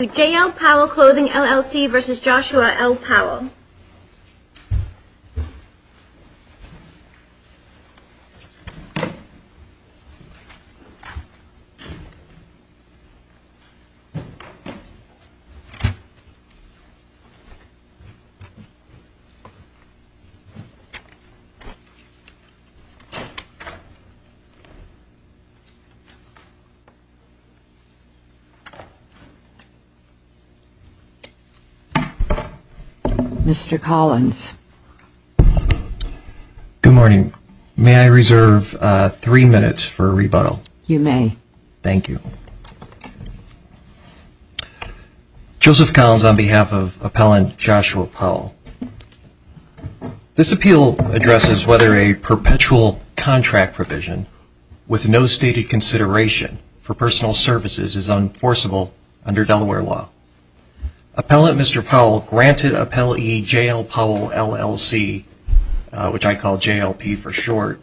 JL Powell Clothing LLC v. Joshua L. Powell Joseph Collins, on behalf of Appellant Joshua Powell, this appeal addresses whether a perpetual contract provision with no stated consideration for personal services is enforceable under Delaware law. Appellant Mr. Powell granted Appellant JL Powell LLC, which I call JLP for short,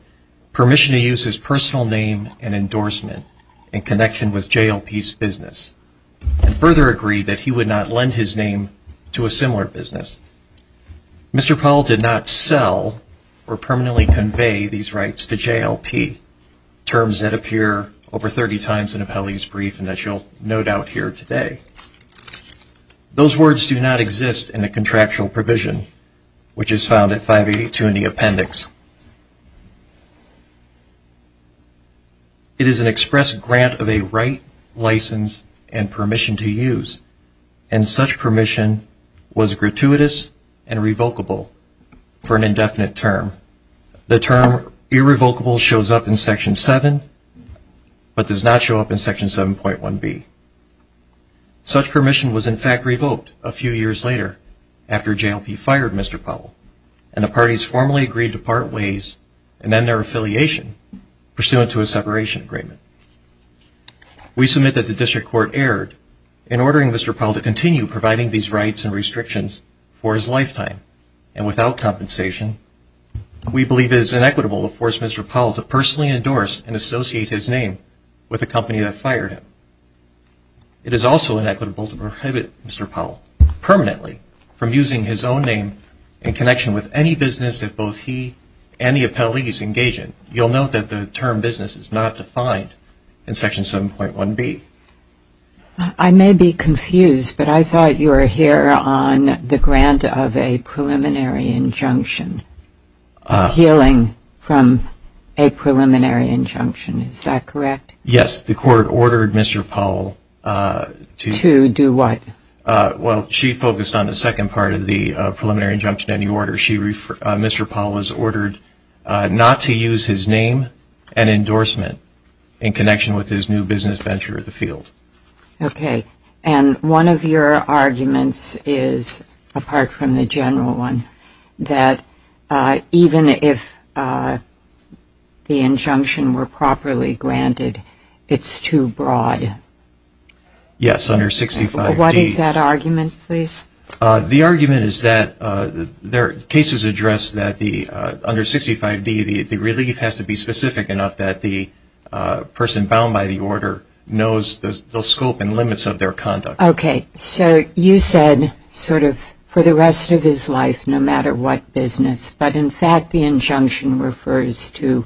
permission to use his personal name and endorsement in connection with JLP's business and further agreed that he would not lend his name to a similar business. Mr. Powell did not sell or permanently convey these rights to JLP, terms that appear over 30 times in Appellee's Brief and that you'll no doubt hear today. Those words do not exist in a contractual provision, which is found at 582 in the appendix. It is an express grant of a right, license, and permission to use, and such permission was gratuitous and revocable for an indefinite term. The term irrevocable shows up in Section 7 but does not show up in Section 7.1b. Such permission was in fact revoked a few years later after JLP fired Mr. Powell and the parties formally agreed to part ways and end their affiliation pursuant to a separation agreement. We submit that the District Court erred in ordering Mr. Powell to continue providing these rights and restrictions for his lifetime and without compensation we believe it is inequitable to force Mr. Powell to personally endorse and associate his name with a company that fired him. It is also inequitable to prohibit Mr. Powell permanently from using his own name in connection with any business that both he and the appellees engage in. You'll note that the term business is not defined in Section 7.1b. I may be mistaken, but you are here on the grant of a preliminary injunction, appealing from a preliminary injunction, is that correct? Yes, the Court ordered Mr. Powell to do what? Well, she focused on the second part of the preliminary injunction and the order. Mr. Powell was ordered not to use his name and endorsement in connection with his new business venture in the field. Okay, and one of your arguments is, apart from the general one, that even if the injunction were properly granted, it's too broad. Yes, under 65d. What is that argument, please? The argument is that there are cases addressed that under 65d the relief has to be specific enough that the person bound by the order knows the scope and limits of their conduct. Okay, so you said sort of for the rest of his life, no matter what business, but in fact the injunction refers to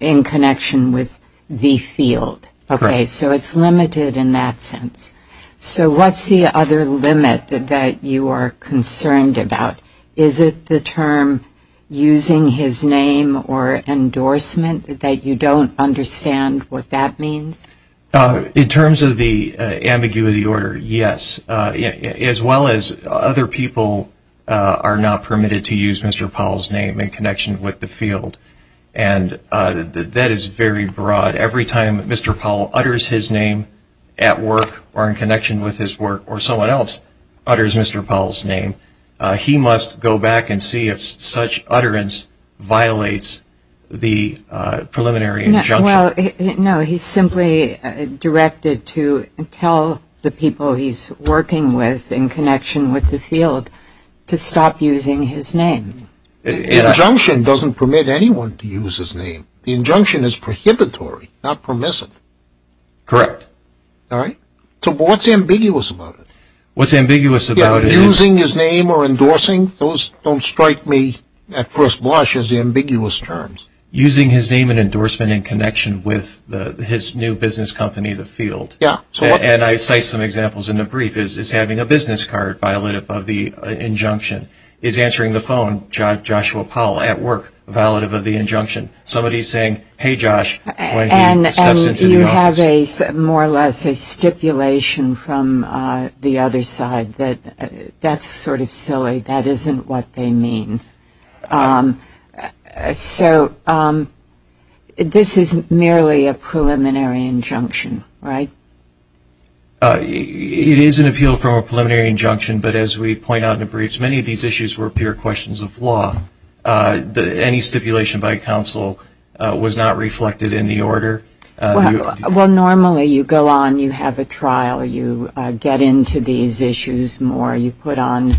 in connection with the field. Okay, so it's limited in that sense. So what's the other limit that you are concerned about? Is it the term using his name or endorsement, that you don't understand what that means? In terms of the ambiguity order, yes. As well as other people are not permitted to use Mr. Powell's name in connection with the field. And that is very broad. Every time Mr. Powell utters his name at work or in connection with his work or someone else utters Mr. Powell's name, he must go back and see if such utterance violates the preliminary injunction. No, he's simply directed to tell the people he's working with in connection with the field to stop using his name. The injunction doesn't permit anyone to use his name. The injunction is prohibitory, not permissive. Correct. So what's ambiguous about it? What's ambiguous about it? Using his name and endorsement in connection with his new business company, the field. And I cite some examples in the brief, is having a business card violative of the injunction. Is answering the phone, Joshua Powell at work, violative of the injunction. Somebody saying, hey Josh, when he steps into the office. And you have more or less a stipulation from the other side. That's sort of silly. That isn't what they mean. So this isn't merely a preliminary injunction, right? It is an appeal from a preliminary injunction, but as we point out in the briefs, many of these issues were pure questions of law. Any stipulation by counsel was not reflected in the order. Well, normally you go on, you have a trial, you get into these issues more, you put on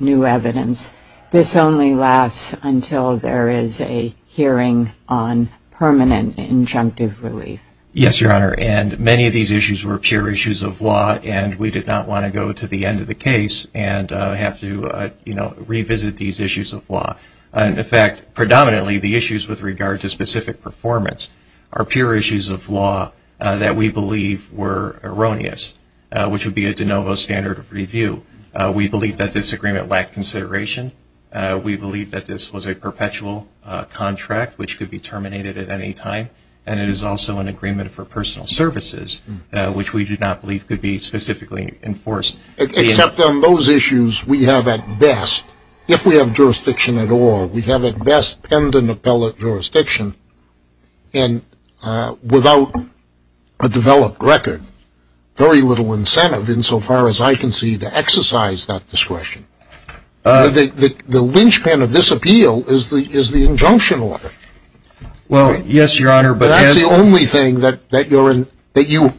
new evidence. This only lasts until there is a hearing on permanent injunctive relief. Yes, Your Honor. And many of these issues were pure issues of law and we did not want to go to the end of the case and have to revisit these issues of law. And in fact, predominantly the issues with regard to specific performance are pure issues of law that we believe were erroneous, which would be a de novo standard of review. We believe that this agreement lacked consideration. We believe that this was a perpetual contract, which could be terminated at any time. And it is also an agreement for personal services, which we do not believe could be specifically enforced. Except on those issues, we have at best, if we have jurisdiction at all, we would have discretion. And without a developed record, very little incentive insofar as I can see to exercise that discretion. The linchpin of this appeal is the injunction order. Well, yes, Your Honor, but that's the only thing that you,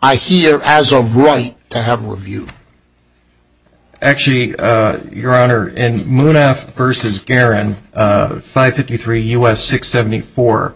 I hear, as of right, to have reviewed. Actually, Your Honor, in Munaf v. Guerin, 553 U.S. 674,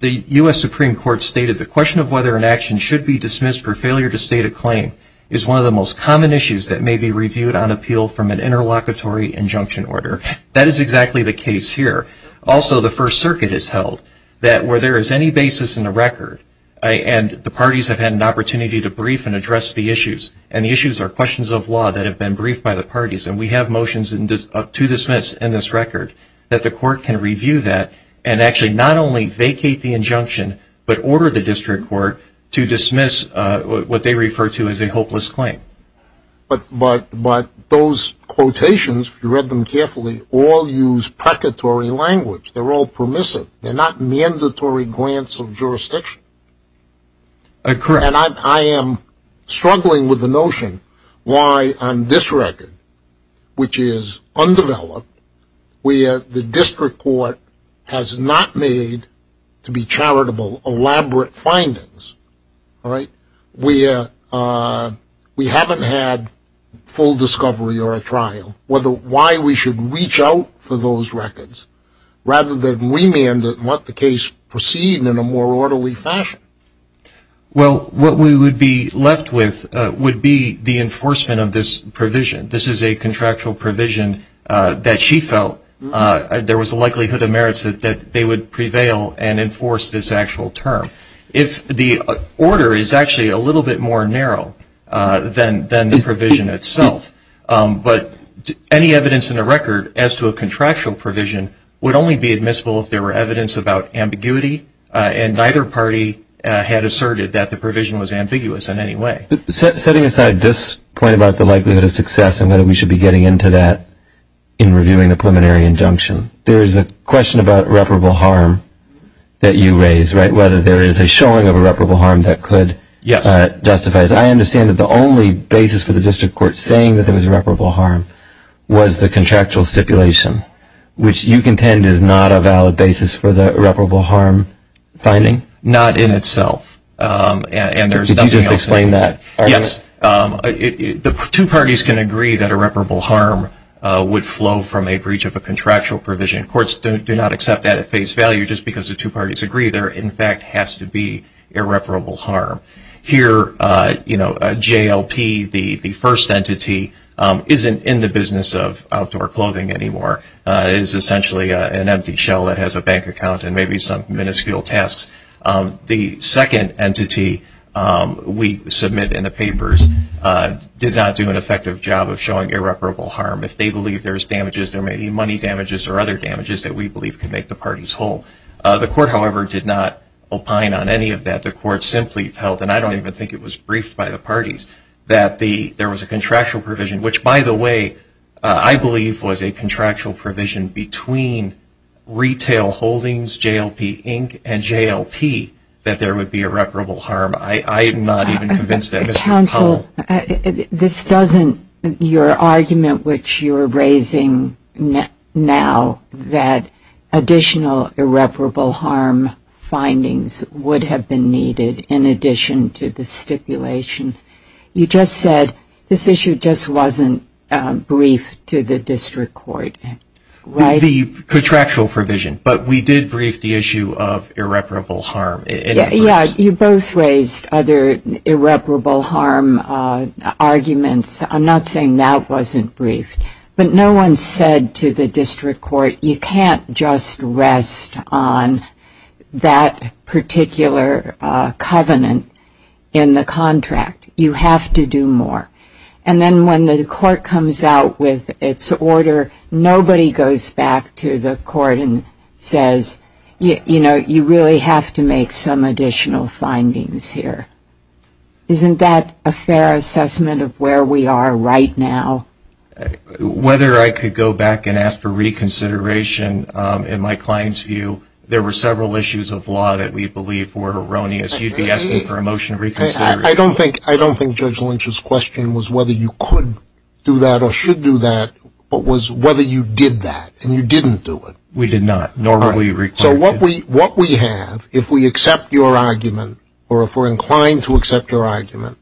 the U.S. Supreme Court stated the question of whether an action should be dismissed for failure to state a claim is one of the most common issues that may be reviewed on appeal from an interlocutory injunction order. That is exactly the case here. Also, the First Circuit has held that where there is any basis in the record, and the parties have had an opportunity to brief and the issues are questions of law that have been briefed by the parties, and we have motions to dismiss in this record, that the court can review that and actually not only vacate the injunction, but order the district court to dismiss what they refer to as a hopeless claim. But those quotations, if you read them carefully, all use precatory language. They're all permissive. They're not mandatory grants of discretion. Why on this record, which is undeveloped, where the district court has not made to be charitable elaborate findings, where we haven't had full discovery or a trial, why we should reach out for those records rather than remand and let the case proceed in a more orderly fashion. Well, what we would be left with would be the enforcement of this provision. This is a contractual provision that she felt there was a likelihood of merits that they would prevail and enforce this actual term. If the order is actually a little bit more narrow than the provision itself, but any evidence in the record as to a contractual provision would only be admissible if there were evidence about ambiguity, and neither party had asserted that the provision was ambiguous in any way. Setting aside this point about the likelihood of success and whether we should be getting into that in reviewing the preliminary injunction, there is a question about reparable harm that you raise, right? Whether there is a showing of a reparable harm that could justify it. I understand that the only basis for the district court saying that there was a reparable harm was the basis for the reparable harm finding? Not in itself. Could you just explain that? Yes. The two parties can agree that a reparable harm would flow from a breach of a contractual provision. Courts do not accept that at face value just because the two parties agree there in fact has to be irreparable harm. Here, you know, JLP, the first entity, isn't in the business of outdoor clothing anymore. It is essentially an empty shell that has a bank account and maybe some minuscule tasks. The second entity we submit in the papers did not do an effective job of showing irreparable harm. If they believe there is damages, there may be money damages or other damages that we believe could make the parties whole. The court, however, did not opine on any of that. The court simply felt, and I don't even think it was briefed by the parties, that there was a contractual provision between retail holdings, JLP, Inc., and JLP that there would be irreparable harm. I am not even convinced of that. Counsel, this doesn't, your argument which you are raising now, that additional irreparable harm findings would have been needed in addition to the stipulation. You just said this issue just wasn't brief to the district court, right? The contractual provision, but we did brief the issue of irreparable harm. Yeah, you both raised other irreparable harm arguments. I am not saying that wasn't briefed. But no one said to the district court, you can't just rest on that particular covenant in the contract. You have to do more. And then when the court comes out with its order, nobody goes back to the court and says, you know, you really have to make some additional findings here. Isn't that a fair assessment of where we are right now? Whether I could go back and ask for reconsideration, in my client's view, there were several issues of law that we believe were erroneous. You would be asking for a motion of reconsideration. I don't think Judge Lynch's question was whether you could do that or should do that, but was whether you did that and you didn't do it. We did not. So what we have, if we accept your argument, or if we are inclined to accept your argument,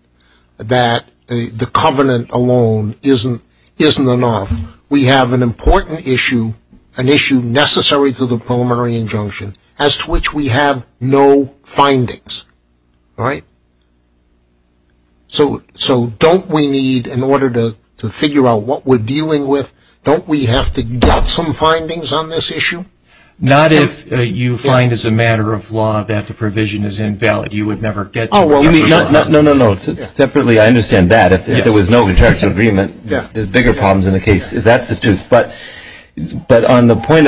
that the covenant alone isn't enough, we have an important issue, an issue necessary to the preliminary injunction, as to which we have no findings. All right? So don't we need, in order to figure out what we're dealing with, don't we have to get some findings on this issue? Not if you find as a matter of law that the provision is invalid. You would never get to that. No, no, no. Separately, I understand that. If there was no contractual agreement, there's bigger problems in the case. That's the truth. But on the contrary,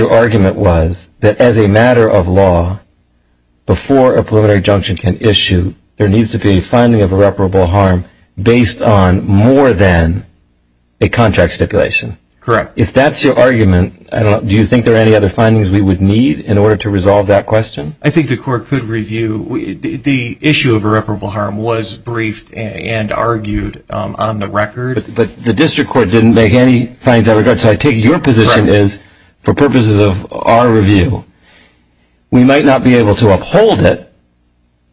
the argument was that as a matter of law, before a preliminary injunction can issue, there needs to be a finding of irreparable harm based on more than a contract stipulation. Correct. If that's your argument, do you think there are any other findings we would need in order to resolve that question? I think the court could review. The issue of irreparable harm was briefed and argued on the record. But the district court didn't make any findings on the record. So I take your position is, for purposes of our review, we might not be able to uphold it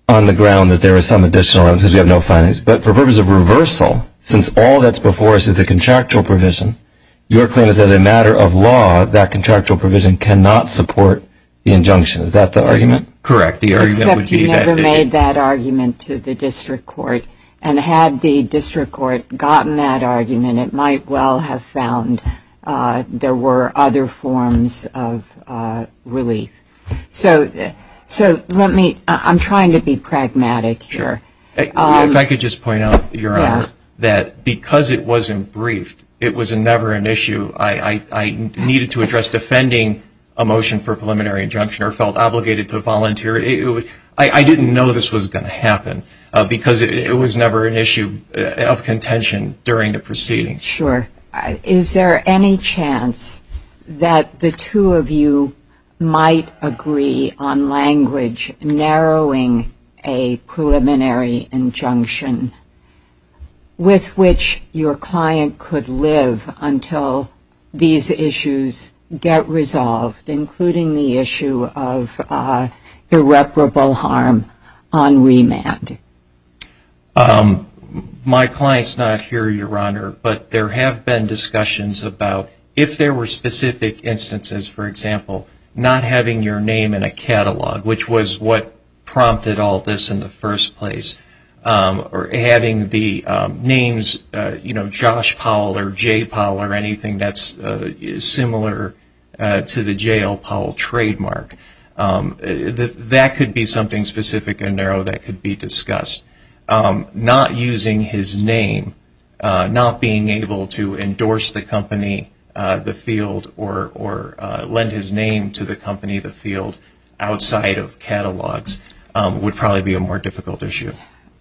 on the ground that there is some additional evidence because we have no findings. But for purposes of reversal, since all that's before us is the contractual provision, your claim is that as a matter of law, that contractual provision cannot support the injunction. Is that the argument? Correct. Except you never made that argument to the district court. And had the district court made that argument, it might well have found there were other forms of relief. So I'm trying to be pragmatic here. If I could just point out, Your Honor, that because it wasn't briefed, it was never an issue. I needed to address defending a motion for preliminary injunction or felt obligated to volunteer. I didn't know this was going to be a proceeding. Sure. Is there any chance that the two of you might agree on language narrowing a preliminary injunction with which your client could live until these issues get resolved, including the issue of irreparable harm on remand? My client's not here, Your Honor, but there have been discussions about if there were specific instances, for example, not having your name in a catalog, which was what prompted all this in the first place, or having the names, you know, Josh Powell or J. Powell or anything that's similar to the J.L. Powell trademark. That could be something specific and narrow that could be discussed. Not using his name, not being able to endorse the company, the field, or lend his name to the company, the field, outside of catalogs would probably be a more difficult issue.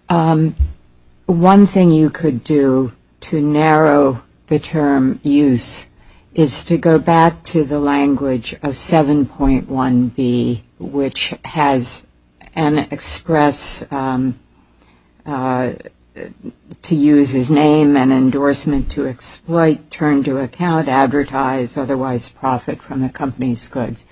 One thing you could do to narrow the term use is to go back to the language of 7.1b, which has an express to use his name and endorsement to exploit, turn to account, advertise, otherwise profit from the company's goods.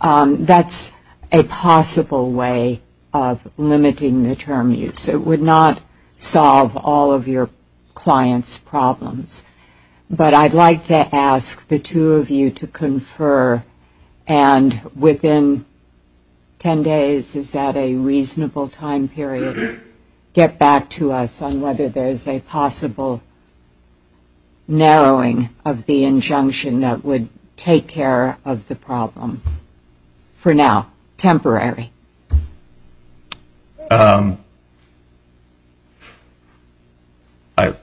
That's a possible way of limiting the term use. It would not solve all of your client's problems. But I'd like to ask the two of you to confer, and within ten days, is that a reasonable time period, get back to us on whether there's a possible narrowing of the injunction that would take care of the problem. For now, temporary. I'm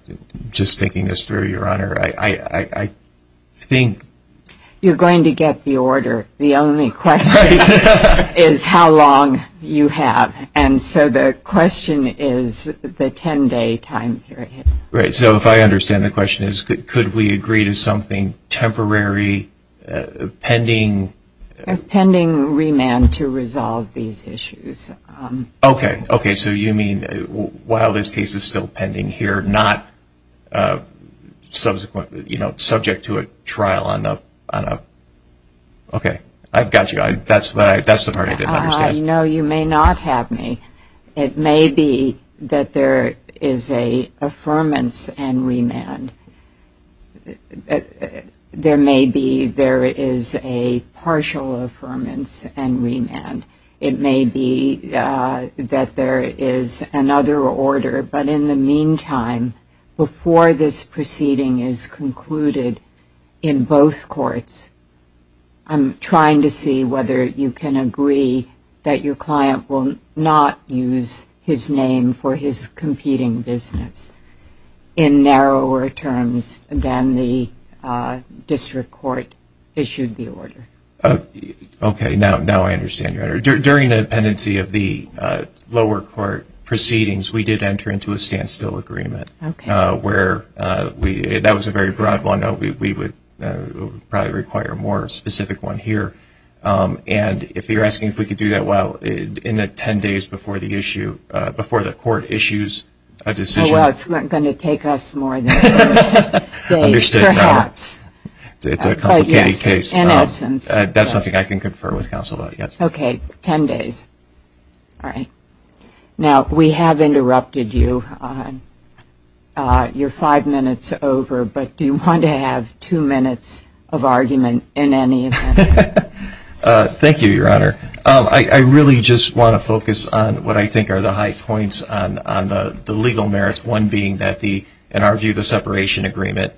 just thinking this through, Your Honor. I think... You're going to get the order. The only question is how long you have. And so the question is the ten-day time period. Right. So if I understand the question is, could we agree to something temporary, pending... Okay. So you mean while this case is still pending here, not subject to a trial on a... Okay. I've got you. That's the part I didn't understand. No, you may not have me. It may be that there is an affirmance and remand. There may be a partial affirmance and remand. It may be that there is another order. But in the meantime, before this proceeding is concluded in both courts, I'm trying to see whether you can agree that your client will not use his name for his competing business in narrower terms than the district court issued the order. Okay. Now I understand, Your Honor. During the pendency of the lower court proceedings, we did enter into a standstill agreement. That was a very broad one. We would probably require a more specific one here. And if you're asking if we could do that, well, in the ten days before the court issues a decision... That's something I can confer with counsel about, yes. Okay. Ten days. All right. Now, we have interrupted you. You're five minutes over. But do you want to have two minutes of argument in any event? Thank you, Your Honor. I really just want to focus on what I think are the high points on the legal merits, one being that, in our view, the separation agreement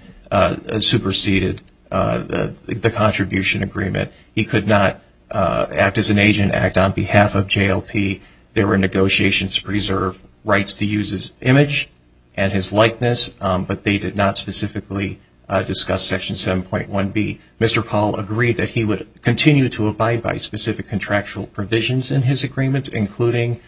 superseded the contribution agreement. He could not act as an agent, act on behalf of JLP. There were negotiations to preserve rights to use his image and his likeness, but they did not specifically discuss Section 7.1b. Mr. Paul agreed that he would continue to abide by specific contractual provisions in his agreements, including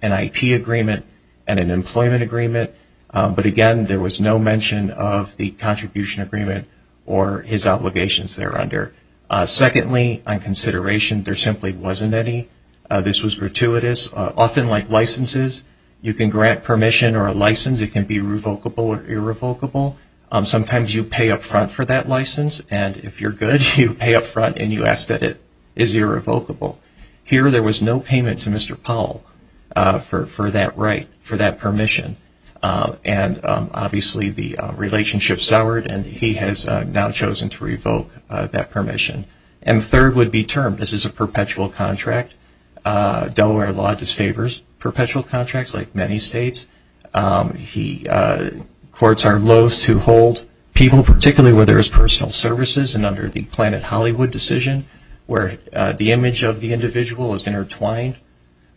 an IP agreement and an employment agreement. But again, there was no mention of the contribution agreement or his obligations there under. Secondly, on consideration, there simply wasn't any. This was gratuitous. Often, like licenses, you can be revocable or irrevocable. Sometimes you pay up front for that license, and if you're good, you pay up front and you ask that it is irrevocable. Here, there was no payment to Mr. Paul for that right, for that permission. And obviously, the relationship soured, and he has now chosen to revoke that permission. And third would be term. This is a perpetual contract. Delaware law disfavors perpetual contracts, like many states. Courts are loath to hold people, particularly where there is personal services, and under the Planet Hollywood decision, where the image of the individual is intertwined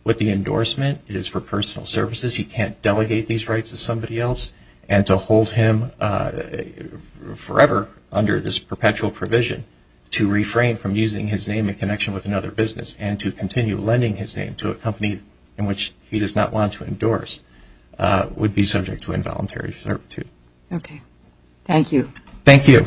with the endorsement, it is for personal services. He can't delegate these rights to somebody else, and to hold him forever under this perpetual provision, to refrain from using his name in connection with another business, and to continue lending his name to a company in which he does not want to endorse, would be subject to involuntary servitude. Okay. Thank you. Thank you.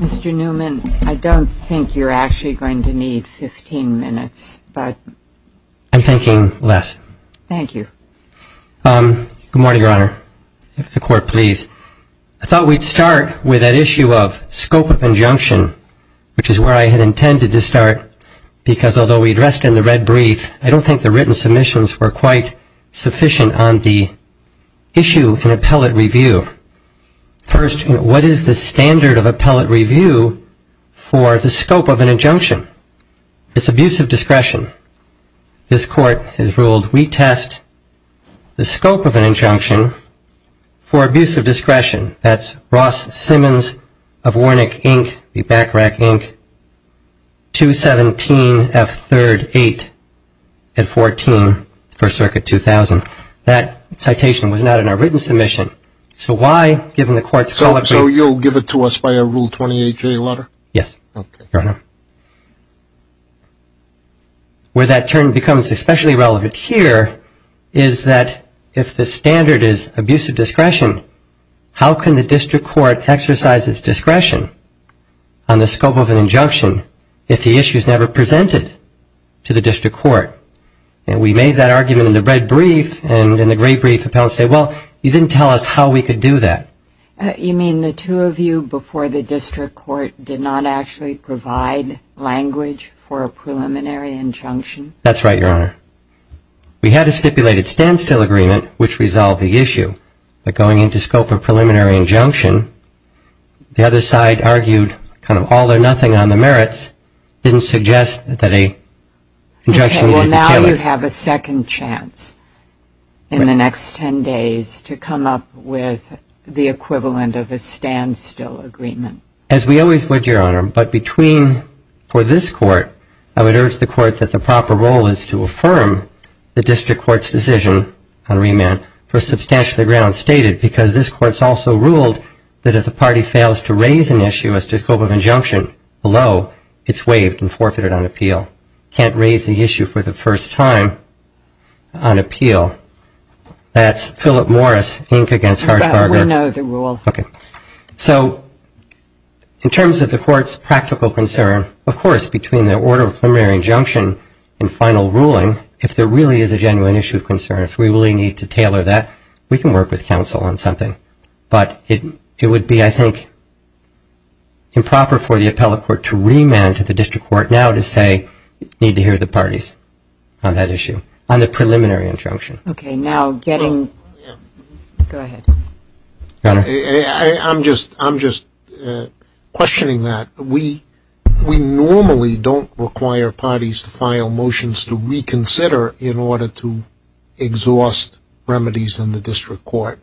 Mr. Newman, I don't think you're actually going to need 15 minutes, but I'm thinking less. Thank you. Good morning, Your Honor. If the Court please. I thought we'd start with that issue of scope of injunction, which is where I had intended to start, because although we addressed in the red brief, I don't think the written submissions were quite sufficient on the issue in appellate review. First, what is the standard of appellate review for the scope of an injunction? It's abuse of discretion. This Court has ruled we test the scope of an injunction for abuse of discretion. That's Ross Simmons of Warnick, Inc., the BACRAC, Inc., 217F3rd 8 and 14, First Circuit 2000. That citation was not in our written submission. So why, given the Court's colloquy. So you'll give it to us by a Rule 28J letter? Yes, Your Honor. Where that term becomes especially relevant here is that if the standard is abuse of discretion, how can the District Court exercise its discretion on the scope of an injunction if the issue is never presented to the District Court? And we made that argument in the red brief, and in the great brief, appellants say, well, you didn't tell us how we could do that. You mean the two of you before the District Court did not actually provide language for a preliminary injunction? That's right, Your Honor. We had a stipulated standstill agreement which resolved the issue. But going into scope of preliminary injunction, the other side argued kind of all or nothing on the merits, didn't suggest that an injunction needed to be tailored. Okay. Well, now you have a second chance in the next 10 days to come up with the equivalent of a standstill agreement. As we always would, Your Honor, but between for this Court, I would urge the Court that the proper role is to affirm the District Court's decision on remand for substantially ground stated, because this Court's also ruled that if the party fails to raise an issue as to scope of injunction below, it's waived and forfeited on appeal. Can't raise the issue for the first time on appeal. That's Philip Morris, Inc. against Harshberger. Well, we know the rule. Okay. So in terms of the Court's practical concern, of course, between the order of preliminary injunction and final ruling, if there really is a genuine issue of concern, if we really need to tailor that, we can work with counsel on something. But it would be, I think, improper for the appellate court to remand to the District Court now to say, need to hear the parties on that issue on the preliminary injunction. I'm just questioning that. We normally don't require parties to file motions to reconsider in order to exhaust remedies in the District Court.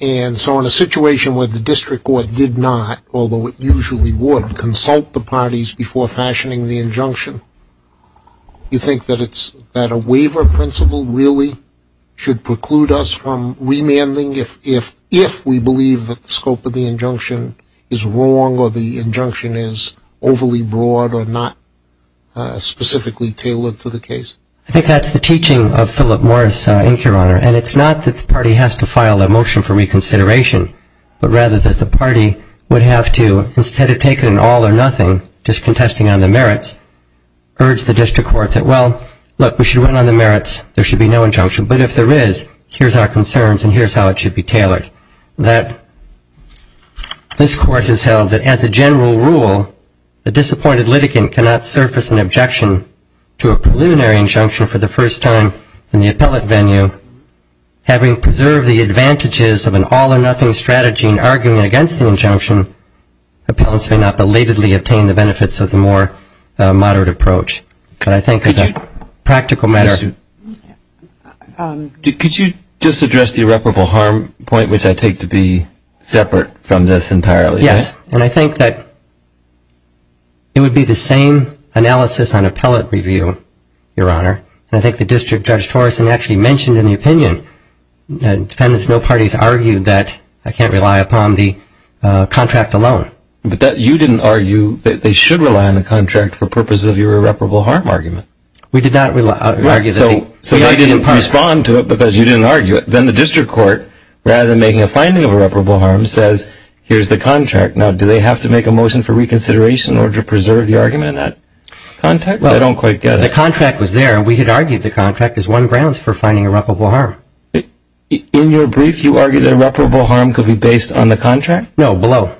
And so in a situation where the District Court did not, although it usually would, consult the parties on that issue, would it be appropriate for the District Court to say, no, the waiver principle really should preclude us from remanding if we believe that the scope of the injunction is wrong or the injunction is overly broad or not specifically tailored to the case? I think that's the teaching of Philip Morris, Inc. Your Honor. And it's not that the party has to file a motion for merits. There should be no injunction. But if there is, here's our concerns and here's how it should be tailored. That this Court has held that as a general rule, a disappointed litigant cannot surface an objection to a preliminary injunction for the first time in the appellate venue. Having preserved the advantages of an all-or-nothing strategy in arguing against the injunction, appellants may not belatedly obtain the benefits of the more moderate approach. But I think as a practical matter, believe that the scope of the injunction is wrong or not specifically tailored to the case? Could you just address the irreparable harm point, which I take to be separate from this entirely? Yes. And I think that it would be the same analysis on appellate review, Your Honor. And I think the District Judge Torreson has a point. I think that the District Court, rather than making a finding of irreparable harm, says here's the contract. Now, do they have to make a motion for reconsideration in order to preserve the argument in that context? I don't quite get it. The contract was there. We had argued the contract as one grounds for finding irreparable harm. In your brief, you argued that irreparable harm could be based on the contract? No, below.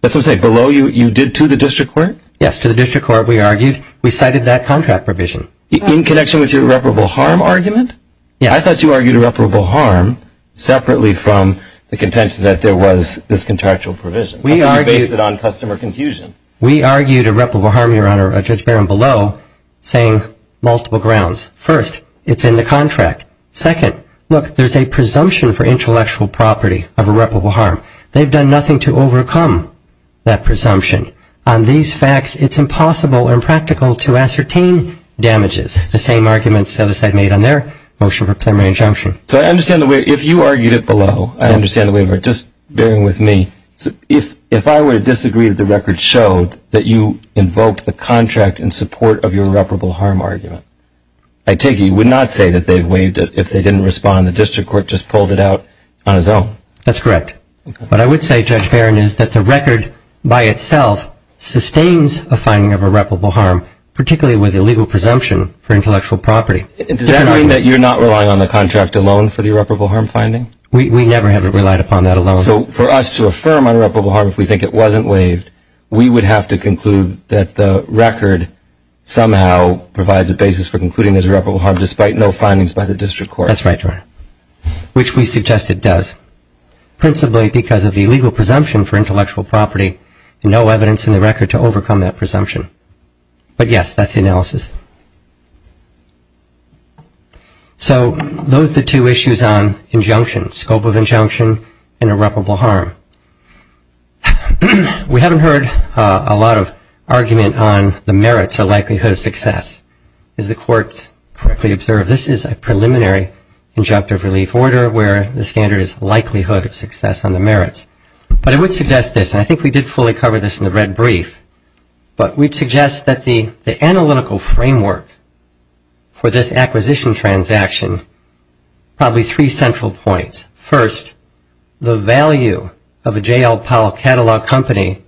That's what I'm saying. Below you did to the District Court? Yes, to the District Court we argued. We cited that contract provision. In connection with your irreparable harm argument? Yes. I thought you argued irreparable harm separately from the contention that there was this contractual provision. We argued irreparable harm, Your Honor, Judge Barron below, saying multiple grounds. First, it's in the contract. Second, look, there's a presumption. On these facts, it's impossible and impractical to ascertain damages. The same arguments the other side made on their motion for preliminary injunction. So I understand the way, if you argued it below, I understand the way of it. Just bearing with me, if I were to disagree that the record showed that you invoked the contract in support of your irreparable harm argument, I take it you would not say that they've waived it if they didn't respond and the record by itself sustains a finding of irreparable harm, particularly with the legal presumption for intellectual property. Does that mean that you're not relying on the contract alone for the irreparable harm finding? We never have relied upon that alone. So for us to affirm irreparable harm if we think it wasn't waived, we would have to conclude that the record somehow provides a basis for concluding there's irreparable harm despite no findings by the District Court. That's right, which we suggest it does, principally because of the legal presumption for intellectual property and no evidence in the record to overcome that presumption. But yes, that's the analysis. So those are the two issues on injunction, scope of injunction, and irreparable harm. We haven't heard a lot of argument on the merits or likelihood of success. As the courts correctly observe, this is a preliminary injunctive relief order where the standard is likelihood of success on the merits. But I would suggest this, and I think we did fully cover this in the red brief, but we'd suggest that the analytical framework for this acquisition transaction, probably three central points. First, the value of a J. L. Powell catalog company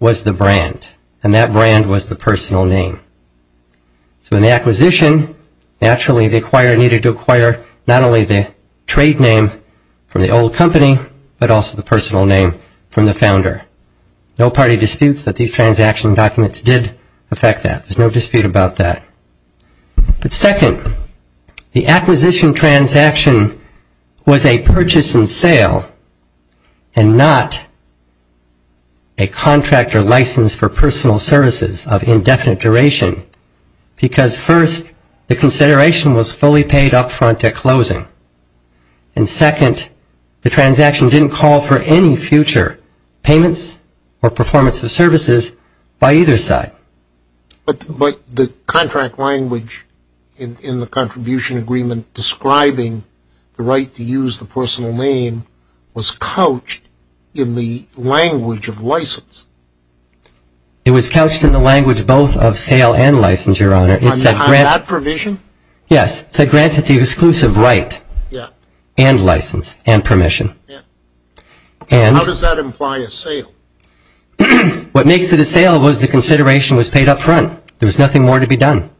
was the brand, and that brand was the personal name. So in the acquisition, naturally, the acquirer needed to acquire not only the trade name from the old company, but also the personal name from the founder. No party disputes that these transaction documents did affect that. There's no dispute about that. But second, the acquisition transaction was a purchase and sale and not a contractor license for personal services of indefinite duration, because first, the consideration was fully paid up front at closing. And second, the transaction didn't call for any future payments or performance of services by either side. But the contract language in the contribution agreement describing the right to use the personal name was couched in the language of sale and license, Your Honor. On that provision? Yes. It said granted the exclusive right and license and permission. How does that imply a sale? What makes it a sale was the consideration was paid up front. There was nothing more to be done.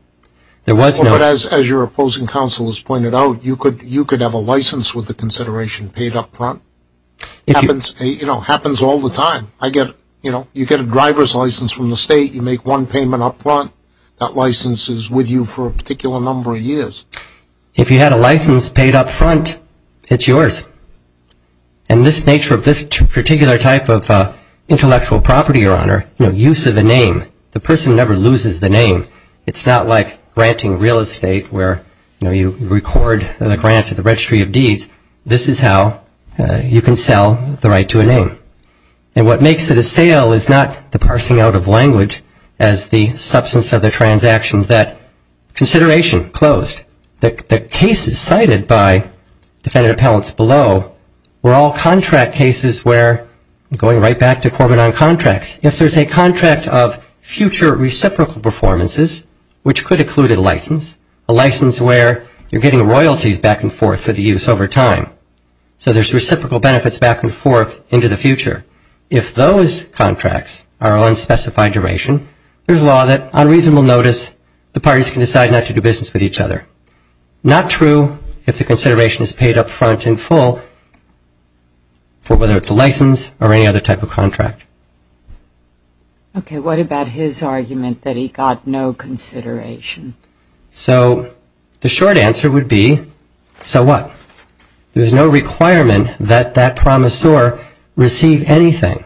But as your opposing counsel has pointed out, you could have a license with the consideration paid up front. It happens all the time. You get a driver's license from the state, you make one payment up front, that license is with you for a particular number of years. If you had a license paid up front, it's yours. And this nature of this particular type of intellectual property, Your Honor, use of a name, the person never loses the name. It's not like granting real estate where, you know, you record the grant to the registry of deeds. This is how you can sell the right to a name. And what makes it a sale is not the parsing out of language as the substance of the transaction, that consideration closed. The cases cited by defendant appellants below were all contract cases where going right back to form and on contracts. If there's a contract of future reciprocal performances, which could include a license, a license where you're getting royalties back and forth for the use over time. So there's reciprocal benefits back and forth into the future. If those contracts are on specified duration, there's a law that on reasonable notice, the parties can decide not to do business with each other. Not true if the consideration is paid up front in full for whether it's a license or any other type of contract. Okay, what about his argument that he got no consideration? So the short answer would be, so what? There's no requirement that that promissor receive anything.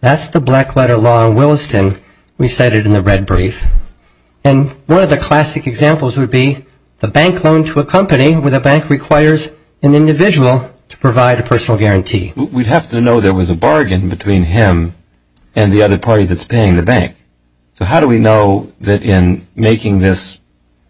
That's the black letter law in Williston we cited in the red brief. And one of the classic examples would be the bank loan to a company where the bank requires an individual to provide a personal guarantee. We'd have to know there was a bargain between him and the other party that's paying the bank. So how do we know that in making this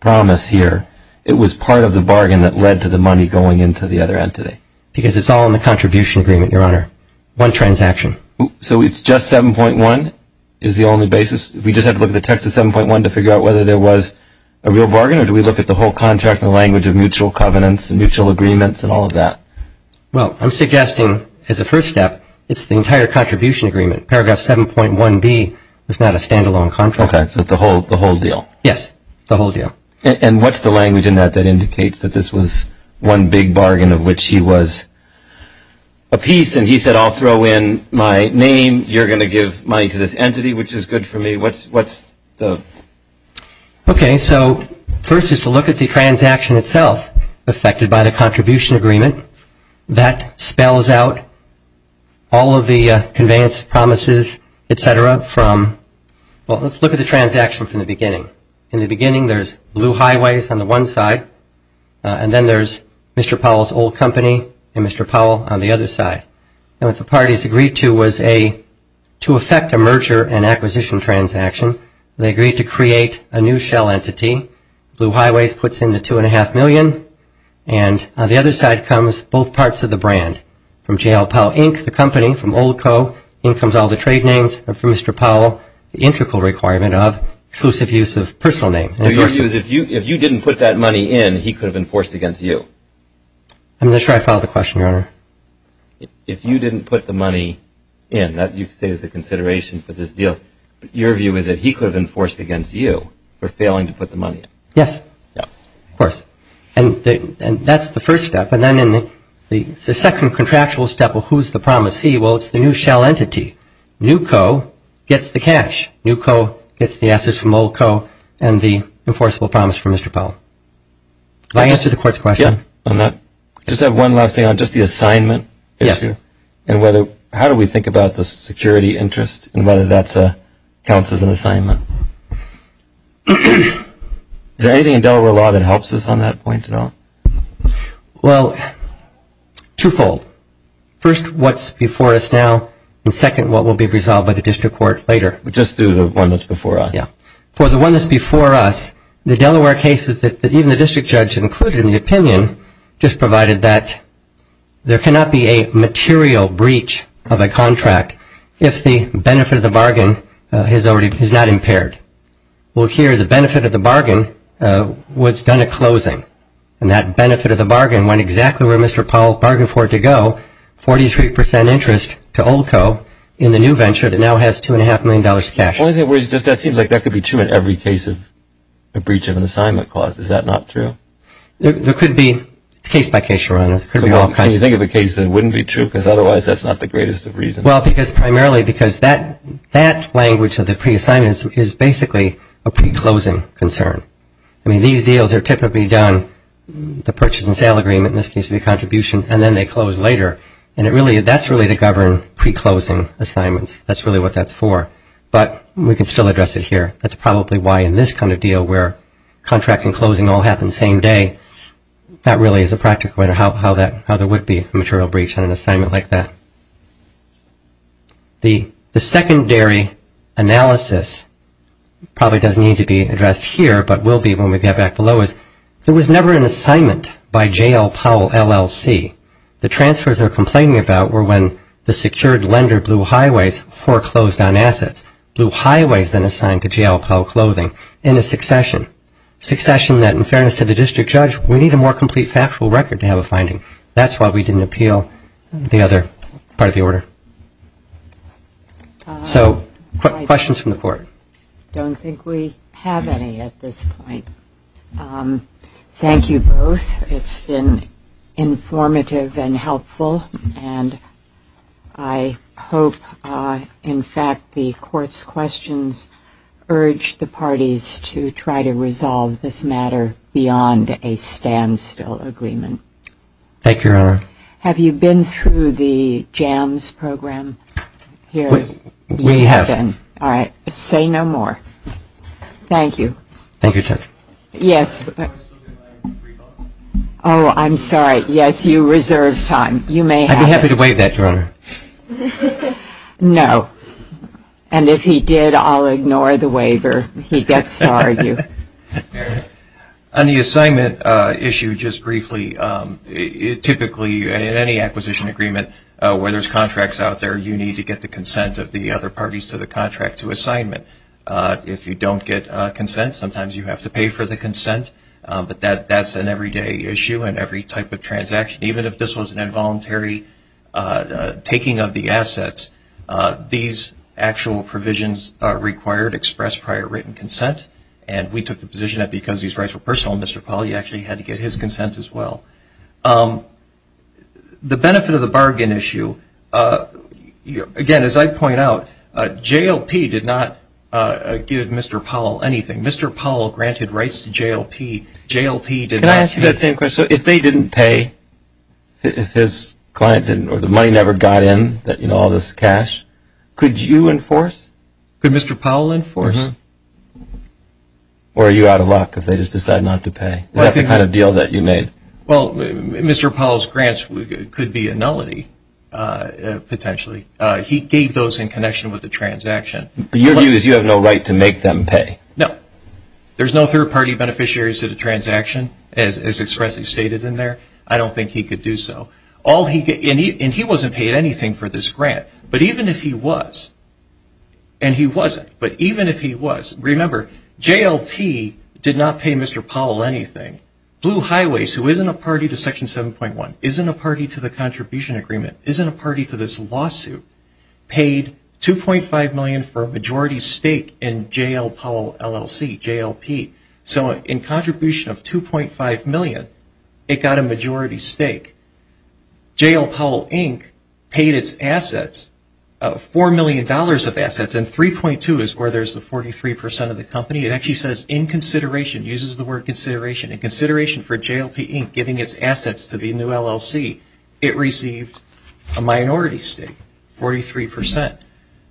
promise here, it was part of the bargain that led to the money going into the other entity? Because it's all in the contribution agreement, Your Honor, one transaction. So it's just 7.1 is the only basis? We just have to look at the text of 7.1 to figure out whether there was a real bargain, or do we look at the whole contract in the language of mutual covenants and mutual agreements and all of that? Well, I'm suggesting as a first step, it's the entire contribution agreement. Paragraph 7.1b is not a stand-alone contract. Okay, so it's the whole deal. Yes, the whole deal. And what's the language in that that indicates that this was one big bargain of which he was apiece, and he said, I'll throw in my name, you're going to give money to this entity, which is good for me. What's the? Okay, so first is to look at the transaction itself affected by the contribution agreement. That spells out all of the conveyance promises, et cetera, from, well, let's look at the transaction from the beginning. In the beginning, there's blue highways on the one side, and then there's Mr. Powell's old company and Mr. Powell on the other side. And what the parties agreed to was to affect a merger and acquisition transaction. They agreed to create a new shell entity. Blue highways puts in the $2.5 million, and on the other side comes both parts of the brand, from J.L. Powell Inc., the company, from Old Co., in comes all the trade names, and from Mr. Powell, the integral requirement of exclusive use of personal name. So your view is if you didn't put that money in, he could have enforced against you? I'm not sure I followed the question, Your Honor. If you didn't put the money in, that you could say is the consideration for this deal. Your view is that he could have enforced against you for failing to put the money in? Yes. Yeah. Of course. And that's the first step. And then in the second contractual step, well, who's the promisee? Well, it's the new shell entity. New Co. gets the cash. New Co. gets the assets from Old Co. and the enforceable promise from Mr. Powell. Did I answer the Court's question on that? Yeah. I just have one last thing on just the assignment issue. Yes. And how do we think about the security interest and whether that counts as an assignment? Is there anything in Delaware law that helps us on that point at all? Well, twofold. First, what's before us now, and second, what will be resolved by the district court later. Just do the one that's before us. Yeah. For the one that's before us, the Delaware cases that even the district judge included in the opinion just provided that there cannot be a material breach of a contract if the benefit of the bargain is not impaired. Well, here the benefit of the bargain was done at closing, and that benefit of the bargain went exactly where Mr. Powell bargained for it to go, 43% interest to Old Co. in the new venture that now has $2.5 million cash. That seems like that could be true in every case of a breach of an assignment clause. Is that not true? It's case by case, Your Honor. Can you think of a case that wouldn't be true? Because otherwise that's not the greatest of reasons. Well, primarily because that language of the pre-assignment is basically a pre-closing concern. I mean, these deals are typically done, the purchase and sale agreement in this case, and then they close later. And that's really to govern pre-closing assignments. That's really what that's for. But we can still address it here. That's probably why in this kind of deal where contract and closing all happen the same day, that really is a practical matter how there would be a material breach on an assignment like that. The secondary analysis probably doesn't need to be addressed here, but will be when we get back below is there was never an assignment by J.L. Powell, LLC. The transfers they're complaining about were when the secured lender, Blue Highways, foreclosed on assets. Blue Highways then assigned to J.L. Powell Clothing in a succession. Succession that, in fairness to the district judge, we need a more complete factual record to have a finding. That's why we didn't appeal the other part of the order. So questions from the Court? I don't think we have any at this point. Thank you both. It's been informative and helpful. And I hope, in fact, the Court's questions urge the parties to try to resolve this matter beyond a standstill agreement. Thank you, Your Honor. Have you been through the JAMS program here? We have. Okay, then. All right. Say no more. Thank you. Thank you, Judge. Yes. Oh, I'm sorry. Yes, you reserved time. You may have it. I'd be happy to waive that, Your Honor. No. And if he did, I'll ignore the waiver. He gets to argue. On the assignment issue, just briefly, typically in any acquisition agreement, where there's contracts out there, you need to get the consent of the other parties to the contract to assignment. If you don't get consent, sometimes you have to pay for the consent. But that's an everyday issue in every type of transaction. Even if this was an involuntary taking of the assets, these actual provisions are required, express prior written consent. And we took the position that because these rights were personal, Mr. Pauly actually had to get his consent as well. The benefit of the bargain issue, again, as I point out, JLP did not give Mr. Pauly anything. Mr. Pauly granted rights to JLP. Can I ask you that same question? So if they didn't pay, if his client didn't, or the money never got in, all this cash, could you enforce? Could Mr. Pauly enforce? Or are you out of luck if they just decide not to pay? Is that the kind of deal that you made? Well, Mr. Pauly's grants could be a nullity, potentially. He gave those in connection with the transaction. Your view is you have no right to make them pay? No. There's no third-party beneficiaries to the transaction, as expressly stated in there. I don't think he could do so. And he wasn't paid anything for this grant. But even if he was, and he wasn't, but even if he was, remember, JLP did not pay Mr. Pauly anything. Blue Highways, who isn't a party to Section 7.1, isn't a party to the contribution agreement, isn't a party to this lawsuit, paid $2.5 million for a majority stake in J.L. Pauly LLC, JLP. So in contribution of $2.5 million, it got a majority stake. J.L. Pauly, Inc. paid its assets, $4 million of assets, and 3.2 is where there's the 43% of the company. It actually says, in consideration, uses the word consideration, in consideration for J.L. P. Inc. giving its assets to the new LLC, it received a minority stake, 43%.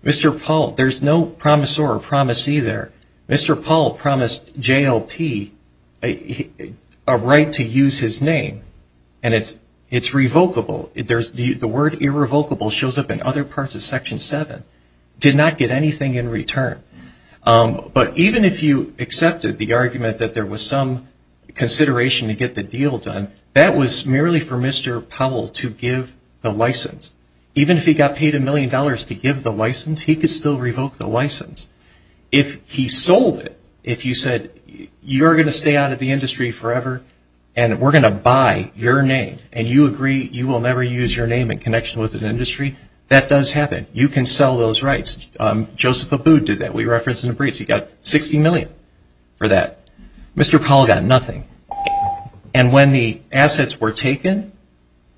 Mr. Pauly, there's no promissor or promisee there. Mr. Pauly promised J.L. P. a right to use his name, and it's revocable. The word irrevocable shows up in other parts of Section 7, did not get anything in return. But even if you accepted the argument that there was some consideration to get the deal done, that was merely for Mr. Pauly to give the license. Even if he got paid $1 million to give the license, he could still revoke the license. If he sold it, if you said, you're going to stay out of the industry forever, and we're going to buy your name, and you agree you will never use your name in connection with an industry, that does happen. You can sell those rights. Joseph Abood did that. We referenced him in brief. He got $60 million for that. Mr. Pauly got nothing. And when the assets were taken,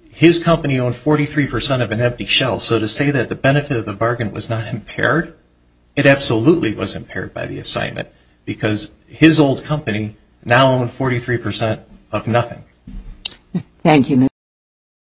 his company owned 43% of an empty shelf. So to say that the benefit of the bargain was not impaired, it absolutely was impaired by the assignment, because his old company now owned 43% of nothing.